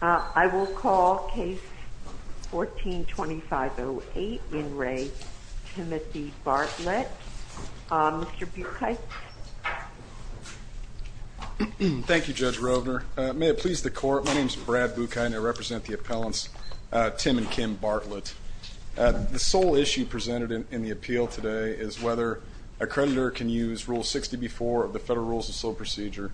I will call case 14-2508, In re, Timothy Bartlett. Mr. Bukite. Thank you, Judge Rovner. May it please the court. My name is Brad Bukite and I represent the appellants Tim and Kim Bartlett. The sole issue presented in the appeal today is whether a creditor can use Rule 60b-4 of the Federal Rules of Slow Procedure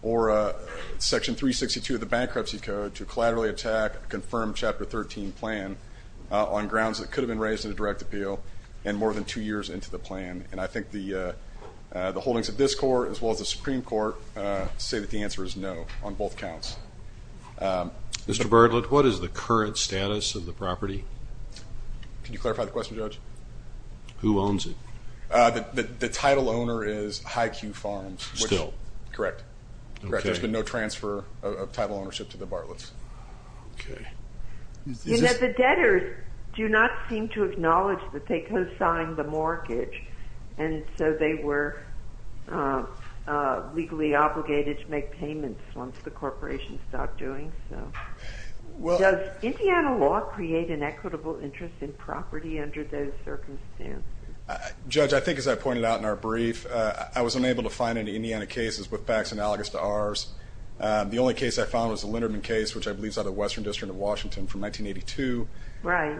or Section 362 of the Bankruptcy Code to collaterally attack a confirmed Chapter 13 plan on grounds that could have been raised in a direct appeal and more than two years into the plan. And I think the the holdings of this court as well as the Supreme Court say that the answer is no on both counts. Mr. Bartlett, what is the current status of the property? Can you answer, Judge? Who owns it? The title owner is High Q Farms. Still? Correct. There's been no transfer of title ownership to the Bartlett's. The debtors do not seem to acknowledge that they co-signed the mortgage and so they were legally obligated to make payments once the corporation stopped doing so. Does Indiana law create an equitable interest in property under those circumstances? Judge, I think as I pointed out in our brief I was unable to find any Indiana cases with facts analogous to ours. The only case I found was the Linderman case which I believe is out of Western District of Washington from 1982. Right.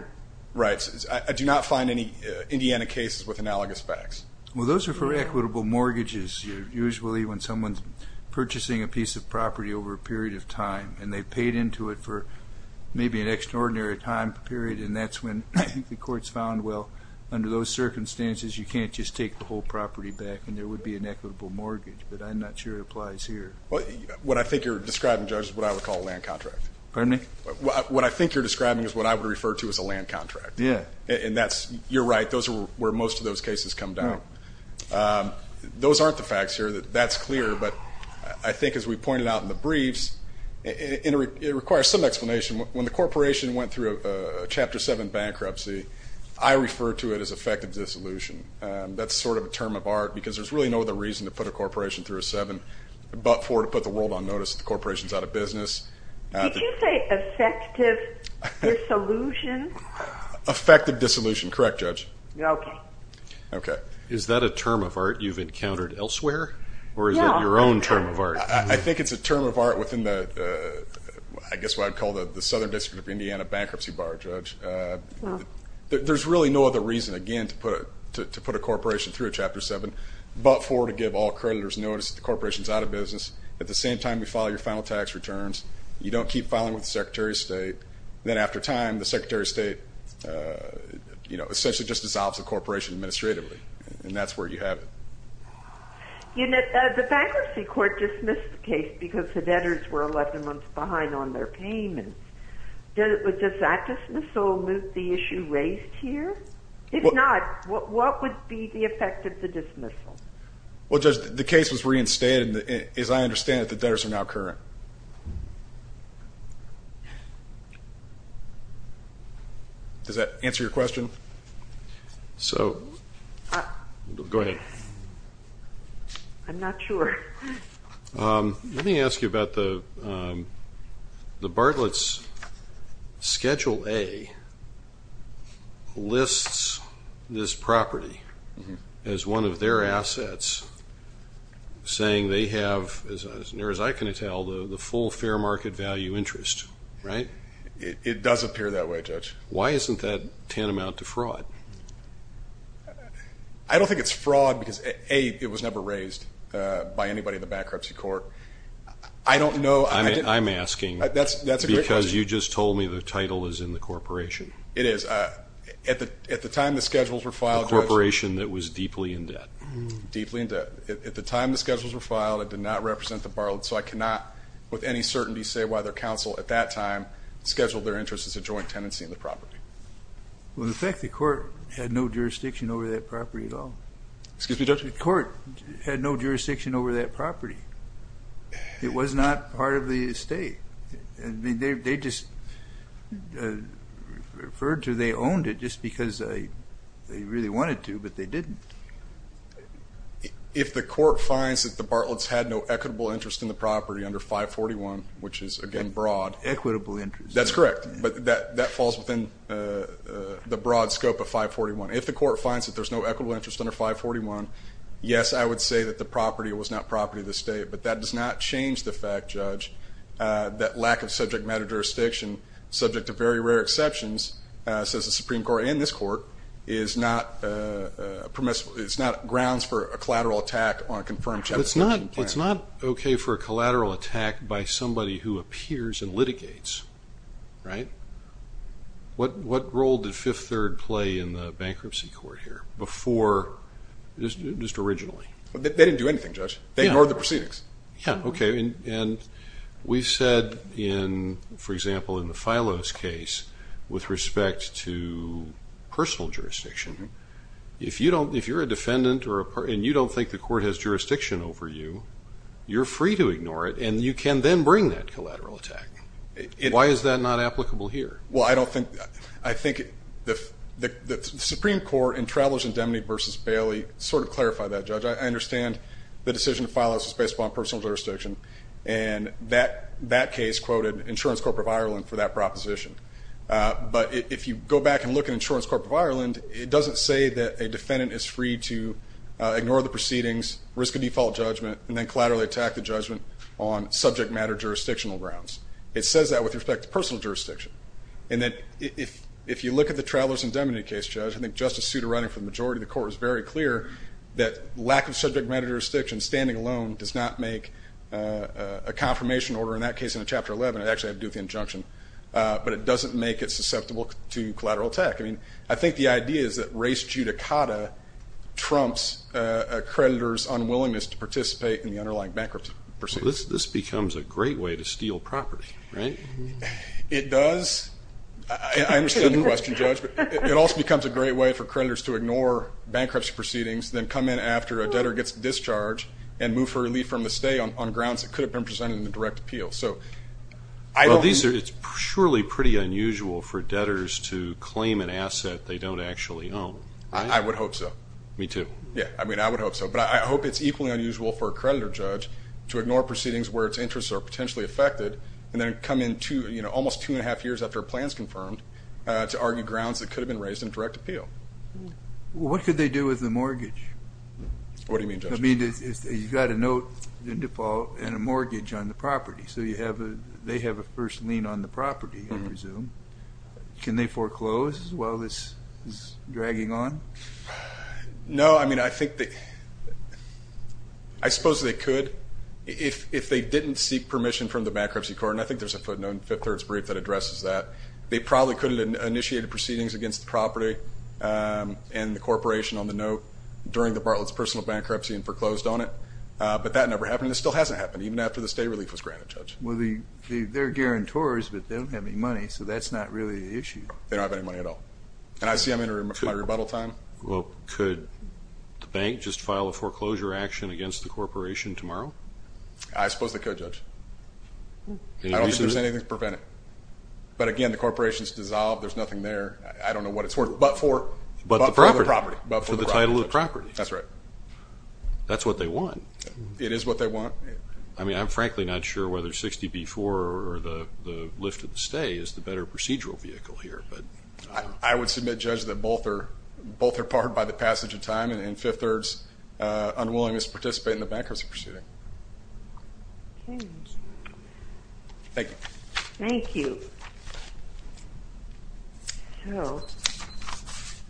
Right. I do not find any Indiana cases with analogous facts. Well those are for equitable mortgages. Usually when someone's purchasing a time and they've paid into it for maybe an extraordinary time period and that's when the court's found well under those circumstances you can't just take the whole property back and there would be an equitable mortgage but I'm not sure it applies here. Well what I think you're describing Judge is what I would call a land contract. Pardon me? What I think you're describing is what I would refer to as a land contract. Yeah. And that's you're right those are where most of those cases come down. Those aren't the facts here that that's clear but I think as we pointed out in the briefs it requires some explanation. When the corporation went through a Chapter 7 bankruptcy I refer to it as effective dissolution. That's sort of a term of art because there's really no other reason to put a corporation through a 7 but for to put the world on notice the corporation's out of business. Did you say effective dissolution? Effective dissolution. Correct Judge. Okay. Okay. Is that a term of art you've encountered elsewhere or is it your own term of art? I think it's a term of art within the I guess what I'd call the the Southern District of Indiana bankruptcy bar Judge. There's really no other reason again to put it to put a corporation through a Chapter 7 but for to give all creditors notice the corporation's out of business. At the same time you file your final tax returns you don't keep filing with the Secretary of State then after time the Secretary of State you know you know the bankruptcy court dismissed the case because the debtors were 11 months behind on their payments. Does that dismissal move the issue raised here? If not what would be the effect of the dismissal? Well Judge the case was reinstated and as I understand it the debtors are now current. Does that answer your question? So go ahead. I'm not sure. Let me ask you about the Bartlett's Schedule A lists this property as one of their assets saying they have as near as I can tell the full fair market value interest right? It does appear that way Judge. Why isn't that tantamount to fraud? I don't think it's fraud because A it was never raised by anybody in the bankruptcy court. I don't know. I mean I'm asking that's because you just told me the title is in the corporation. It is at the at the time the schedules were filed. The corporation that was deeply in debt. Deeply in debt at the time the schedules were filed it did not represent the Bartlett's so I cannot with any certainty say why their counsel at that time scheduled their interest as a joint tenancy in the property. Well the fact the court had no jurisdiction over that property at all. Excuse me Judge? The court had no jurisdiction over that property. It was not part of the estate and they just referred to they owned it just because they really wanted to but they didn't. If the court finds that the Bartlett's had no equitable interest in the property under 541 which is again broad. Equitable interest. That's correct but that that falls within the broad scope of 541. If the court finds that there's no equitable interest under 541 yes I would say that the property was not property of the state but that does not change the fact Judge that lack of subject matter jurisdiction subject to very rare exceptions says the Supreme Court and this court is not permissible it's not grounds for a collateral attack on a confirmed It's not okay for a collateral attack by somebody who appears and litigates right? What what role did Fifth Third play in the bankruptcy court here before just just originally? They didn't do anything Judge. They ignored the proceedings. Yeah okay and we said in for example in the personal jurisdiction if you don't if you're a defendant or a part and you don't think the court has jurisdiction over you you're free to ignore it and you can then bring that collateral attack. Why is that not applicable here? Well I don't think I think if the Supreme Court and Travelers Indemnity versus Bailey sort of clarify that Judge. I understand the decision to file us is based upon personal jurisdiction and that that case quoted Insurance Corp of Ireland for that proposition but if you go back and look at Insurance Corp of Ireland it doesn't say that a defendant is free to ignore the proceedings risk a default judgment and then collaterally attack the judgment on subject matter jurisdictional grounds. It says that with respect to personal jurisdiction and that if if you look at the Travelers Indemnity case Judge I think Justice Souter writing for the majority of the court was very clear that lack of subject matter jurisdiction standing alone does not make a confirmation order in that case in a chapter 11 it actually had to make the injunction but it doesn't make it susceptible to collateral attack. I mean I think the idea is that race judicata trumps a creditor's unwillingness to participate in the underlying bankruptcy. This becomes a great way to steal property right? It does I understand the question Judge but it also becomes a great way for creditors to ignore bankruptcy proceedings then come in after a debtor gets discharged and move for relief from the stay on grounds that could have been presented in the direct appeal. So I know these are it's surely pretty unusual for debtors to claim an asset they don't actually own. I would hope so. Me too. Yeah I mean I would hope so but I hope it's equally unusual for a creditor judge to ignore proceedings where its interests are potentially affected and then come in to you know almost two and a half years after plans confirmed to argue grounds that could have been raised in direct appeal. What could they do with the mortgage? What do you mean Judge? I mean you've got a note in default and a mortgage on the property so you have a they have a first lien on the property I presume. Can they foreclose while this is dragging on? No I mean I think that I suppose they could if they didn't seek permission from the Bankruptcy Court and I think there's a footnote in Fifth Third's brief that addresses that. They probably could have initiated proceedings against the property and the corporation on the note during the Bartlett's personal bankruptcy and foreclosed on it but that never happened it still hasn't happened even after the state relief was granted Judge. Well they're guarantors but they don't have any money so that's not really the issue. They don't have any money at all and I see I'm in my rebuttal time. Well could the bank just file a foreclosure action against the corporation tomorrow? I suppose they could Judge. I don't think there's anything to prevent it but again the corporation's dissolved there's nothing there I don't know what it's worth but for the property. For the title of property. That's right. That's what they want. It is what they want. I mean I'm frankly not sure whether 60B4 or the lift of the stay is the better procedural vehicle here. I would submit Judge that both are both are part by the passage of time and in Fifth Third's unwillingness to participate in the bankruptcy proceeding. Thank you. Thank you.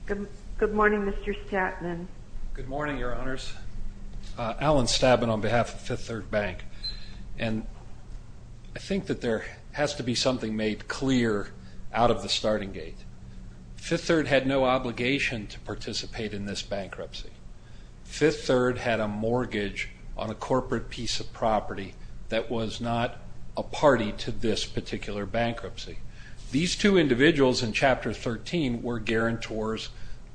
Good morning Mr. Stattman. Good morning your honors. Alan Stattman on behalf of Fifth Third Bank and I think that there has to be something made clear out of the starting gate. Fifth Third had no obligation to participate in this bankruptcy. Fifth Third had a mortgage on a corporate piece of property that was not a party to this particular bankruptcy. These two individuals in Chapter 13 were guarantors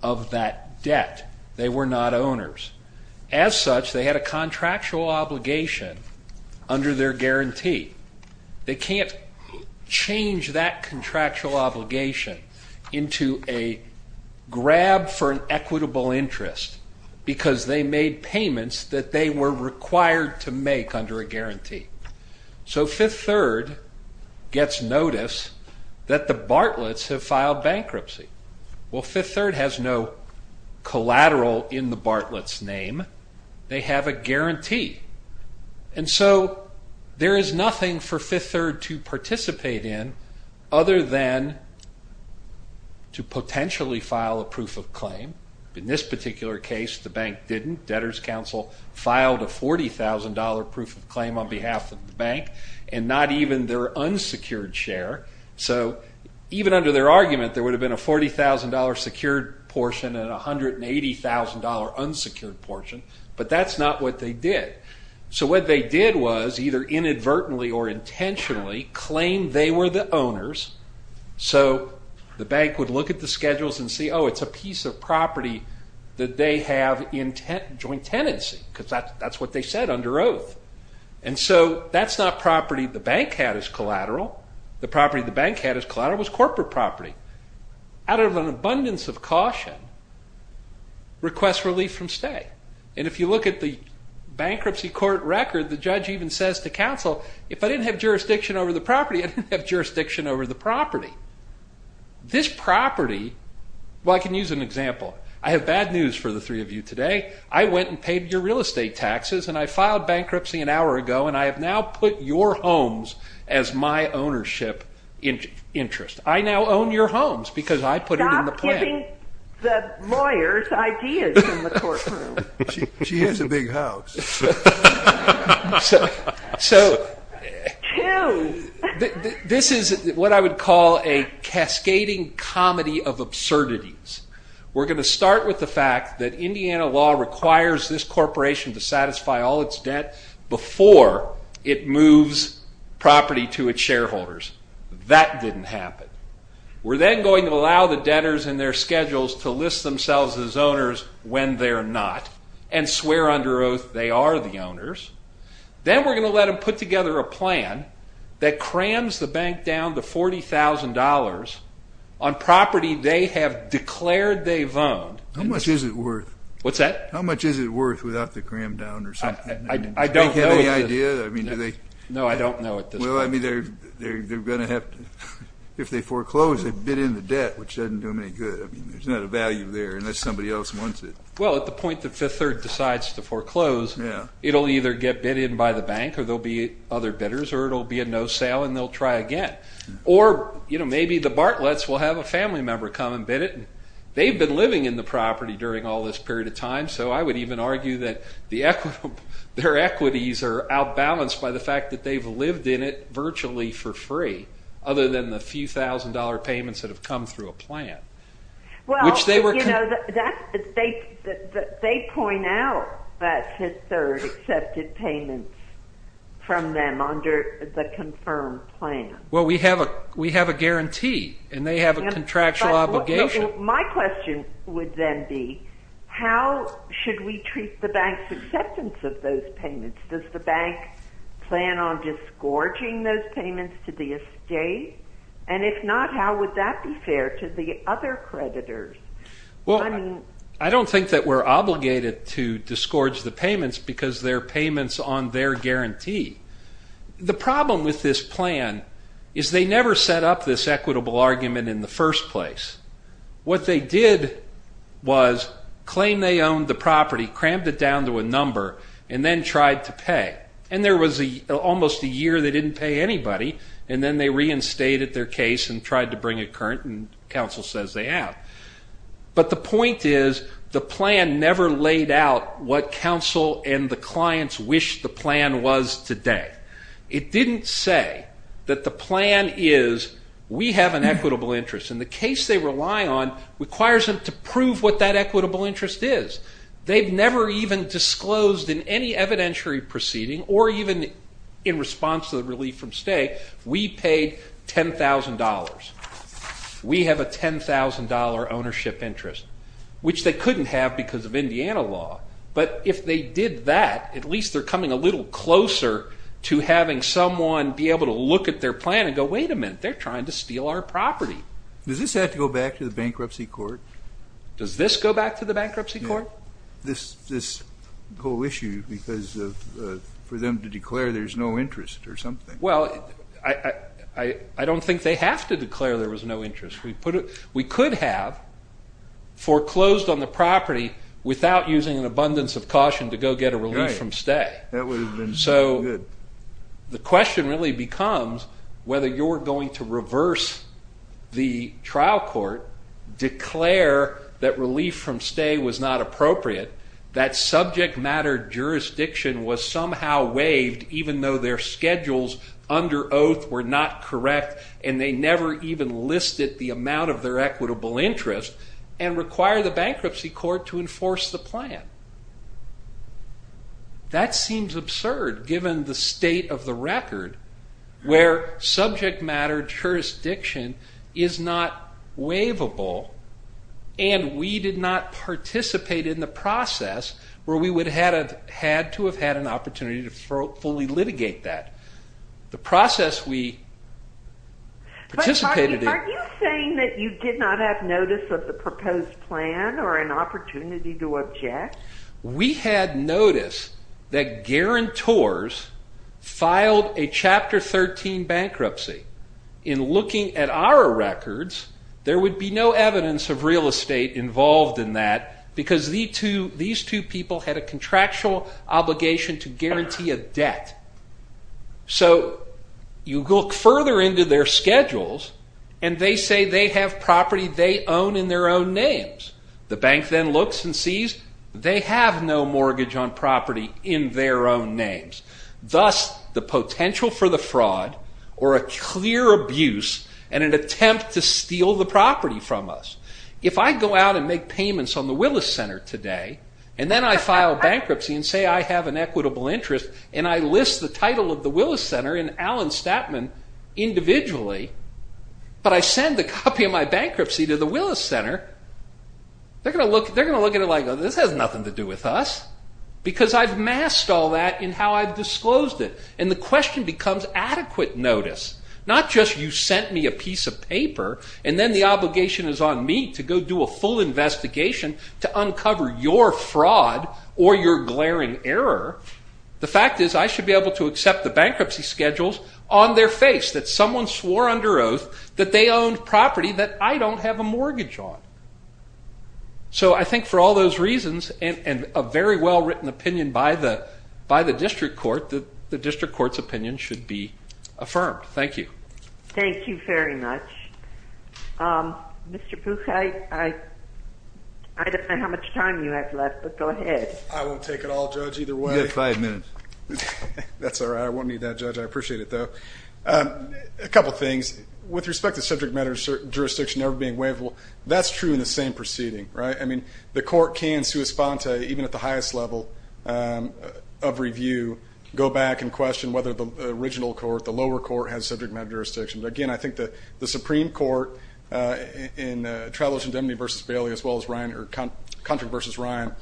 of that debt. They were not owners. As such they had a contractual obligation under their guarantee. They can't change that contractual because they made payments that they were required to make under a guarantee. So Fifth Third gets notice that the Bartlett's have filed bankruptcy. Well Fifth Third has no collateral in the Bartlett's name. They have a guarantee. And so there is nothing for Fifth Third to participate in other than to file a $40,000 proof of claim on behalf of the bank and not even their unsecured share. So even under their argument there would have been a $40,000 secured portion and a $180,000 unsecured portion but that's not what they did. So what they did was either inadvertently or intentionally claim they were the owners. So the bank would look at the schedules and see oh it's a piece of property that they have joint tenancy because that's what they said under oath. And so that's not property the bank had as collateral. The property the bank had as collateral was corporate property. Out of an abundance of caution, request relief from stay. And if you look at the bankruptcy court record the judge even says to counsel if I didn't have jurisdiction over the property I didn't have Well I can use an example. I have bad news for the three of you today. I went and paid your real estate taxes and I filed bankruptcy an hour ago and I have now put your homes as my ownership interest. I now own your homes because I put it in the plan. Stop giving the lawyers ideas in the courtroom. She has a big house. So this is what I would call a cascading comedy of absurdities. We're going to start with the fact that Indiana law requires this corporation to satisfy all its debt before it moves property to its shareholders. That didn't happen. We're then going to allow the debtors and their schedules to list themselves as owners when they're not and swear under that they are the owners. Then we're going to let them put together a plan that crams the bank down to $40,000 on property they have declared they've owned. How much is it worth? What's that? How much is it worth without the cram down or something? I don't know. Do they have any idea? No I don't know at this point. Well I mean they're going to have to, if they foreclose they've bid in the debt which doesn't do them any good. There's not a value there unless somebody else wants it. Well at the point that Fifth Third decides to foreclose it'll either get bid in by the bank or there'll be other bidders or it'll be a no sale and they'll try again. Or maybe the Bartlets will have a family member come and bid it. They've been living in the property during all this period of time so I would even argue that their equities are out balanced by the fact that they've lived in it virtually for free other than the few thousand dollar payments that have come through a plan. They point out that Fifth Third accepted payments from them under the confirmed plan. Well we have a guarantee and they have a contractual obligation. My question would then be how should we treat the bank's acceptance of those payments? Does the bank plan on disgorging those payments to the estate? And if not how would that be fair to the other creditors? Well I don't think that we're obligated to disgorge the payments because they're payments on their guarantee. The problem with this plan is they never set up this equitable argument in the first place. What they did was claim they owned the property, crammed it down to a debt and there was almost a year they didn't pay anybody and then they reinstated their case and tried to bring it current and counsel says they have. But the point is the plan never laid out what counsel and the clients wish the plan was today. It didn't say that the plan is we have an equitable interest and the case they rely on requires them to prove what that equitable interest is. They've never even disclosed in any evidentiary proceeding or even in response to the relief from state we paid $10,000. We have a $10,000 ownership interest which they couldn't have because of Indiana law. But if they did that at least they're coming a little closer to having someone be able to look at their plan and go wait a minute they're trying to steal our property. Does this have to go back to the bankruptcy court? Does this go back to the bankruptcy court? This whole issue because for them to declare there's no interest or something. Well I don't think they have to declare there was no interest. We could have foreclosed on the property without using an abundance of caution to go get a relief from stay. So the question really becomes whether you're going to reverse the trial court, declare that relief from stay was not appropriate, that subject matter jurisdiction was somehow waived even though their schedules under oath were not correct and they never even That seems absurd given the state of the record where subject matter jurisdiction is not waivable and we did not participate in the process where we would have had to have had an opportunity to fully litigate that. The process we participated in. Are you saying that you did not have notice of the proposed plan or an opportunity to object? We had notice that guarantors filed a chapter 13 bankruptcy. In looking at our records there would be no evidence of real estate involved in that because these two people had a contractual obligation to guarantee a debt. So you look further into their schedules and they say they have property they own in their own names. The bank then looks and sees they have no mortgage on property in their own names. Thus the potential for the fraud or a clear abuse and an attempt to steal If I go out and make payments on the Willis Center today and then I file bankruptcy and say I have an equitable interest and I list the title of the Willis Center in Allen Statman individually, but I send the copy of my bankruptcy to the Willis Center, they're going to look at it like this has nothing to do with us because I've masked all that in how I've disclosed it. And the question becomes adequate notice. Not just you sent me a piece of paper and then the obligation is on me to go do a full investigation to uncover your fraud or your glaring error. The fact is I should be able to accept the bankruptcy schedules on their face that someone swore under oath that they owned property that I don't have a mortgage on. So I think for all those reasons and a very well-written opinion by the district court, the district court's opinion should be affirmed. Thank you. Thank you very much. Mr. Buchheit, I don't know how much time you have left, but go ahead. I won't take it all, Judge, either way. You have five minutes. That's all right. I won't need that, Judge. I appreciate it, though. A couple of things. With respect to subject matter jurisdiction ever being waivable, that's true in the same proceeding, right? I mean, the court can, sua sponte, even at the highest level of review, go back and question whether the original court, the lower court, has subject matter jurisdiction. Again, I think the Supreme Court in Traveler's Indemnity v. Bailey as well as Contract v. Ryan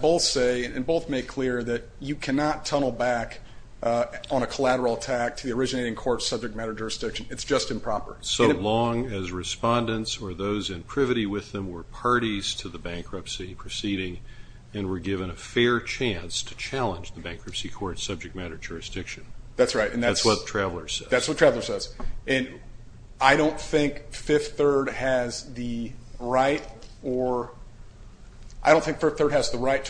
both say and both make clear that you cannot tunnel back on a collateral attack to the originating court's subject matter jurisdiction. It's just improper. So long as respondents or those in privity with them were parties to the bankruptcy proceeding and were given a fair chance to challenge the bankruptcy court's subject matter jurisdiction. That's right. That's what Traveler says. That's what Traveler says. And I don't think Fifth Third has the right to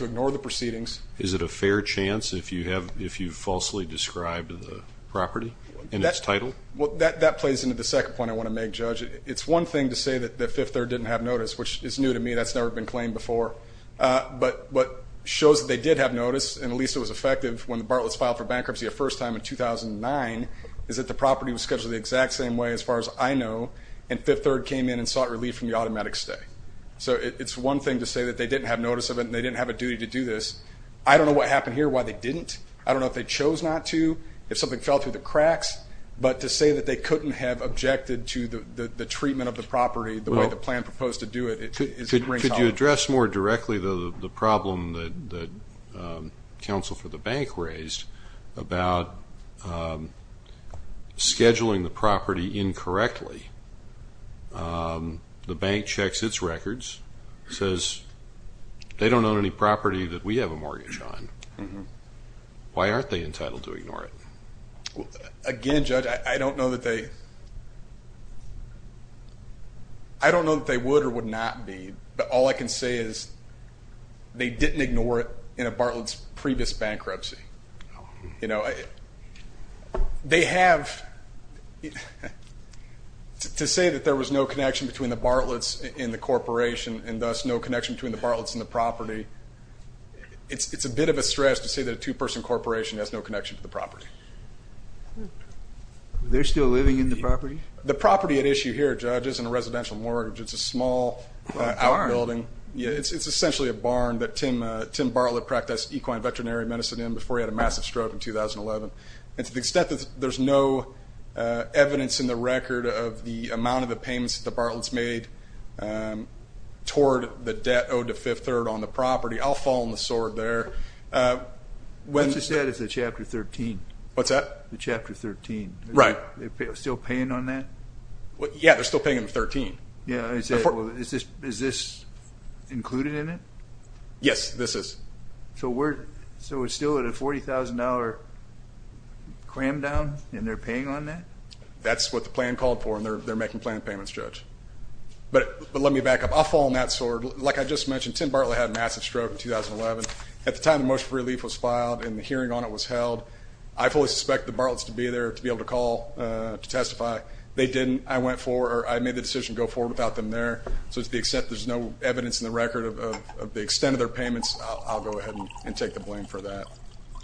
ignore the proceedings. Is it a fair chance if you falsely described the property and its title? Well, that plays into the second point I want to make, Judge. It's one thing to say that Fifth Third didn't have notice, which is new to me. That's never been claimed before. But it shows that they did have notice, and at least it was effective when the Bartlett's filed for bankruptcy a first time in 2009, is that the property was scheduled the exact same way, as far as I know, and Fifth Third came in and sought relief from the automatic stay. So it's one thing to say that they didn't have notice of it and they didn't have a duty to do this. I don't know what happened here, why they didn't. I don't know if they chose not to, if something fell through the cracks. But to say that they couldn't have objected to the treatment of the property the way the plan proposed to do it is a great challenge. Could you address more directly the problem that counsel for the bank raised about scheduling the property incorrectly? The bank checks its records, says they don't own any property that we have a mortgage on. Why aren't they entitled to ignore it? Again, Judge, I don't know that they would or would not be, but all I can say is they didn't ignore it in a Bartlett's previous bankruptcy. To say that there was no connection between the Bartlett's and the corporation, and thus no connection between the Bartlett's and the property, it's a bit of a stretch to say that a two-person corporation has no connection to the property. They're still living in the property? The property at issue here, Judge, isn't a residential mortgage. It's a small outbuilding. It's essentially a barn that Tim Bartlett practiced equine veterinary medicine in before he had a massive stroke in 2011. To the extent that there's no evidence in the record of the amount of the payments that the Bartlett's made toward the debt owed to Fifth Third on the property, I'll fall on the sword there. What's the status of Chapter 13? What's that? The Chapter 13. Right. They're still paying on that? Yeah, they're still paying on 13. Is this included in it? Yes, this is. So we're still at a $40,000 cram down, and they're paying on that? That's what the plan called for, and they're making planned payments, Judge. But let me back up. I'll fall on that sword. Like I just mentioned, Tim Bartlett had a massive stroke in 2011. At the time the motion for relief was filed and the hearing on it was held, I fully suspect the Bartlett's to be there to be able to call to testify. They didn't. I made the decision to go forward without them there. So to the extent there's no evidence in the record of the extent of their payments, I'll go ahead and take the blame for that.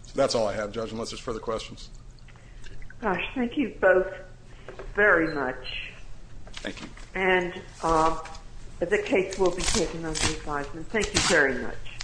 So that's all I have, Judge, unless there's further questions. Gosh, thank you both very much. Thank you. And the case will be taken under advisement. Thank you very much.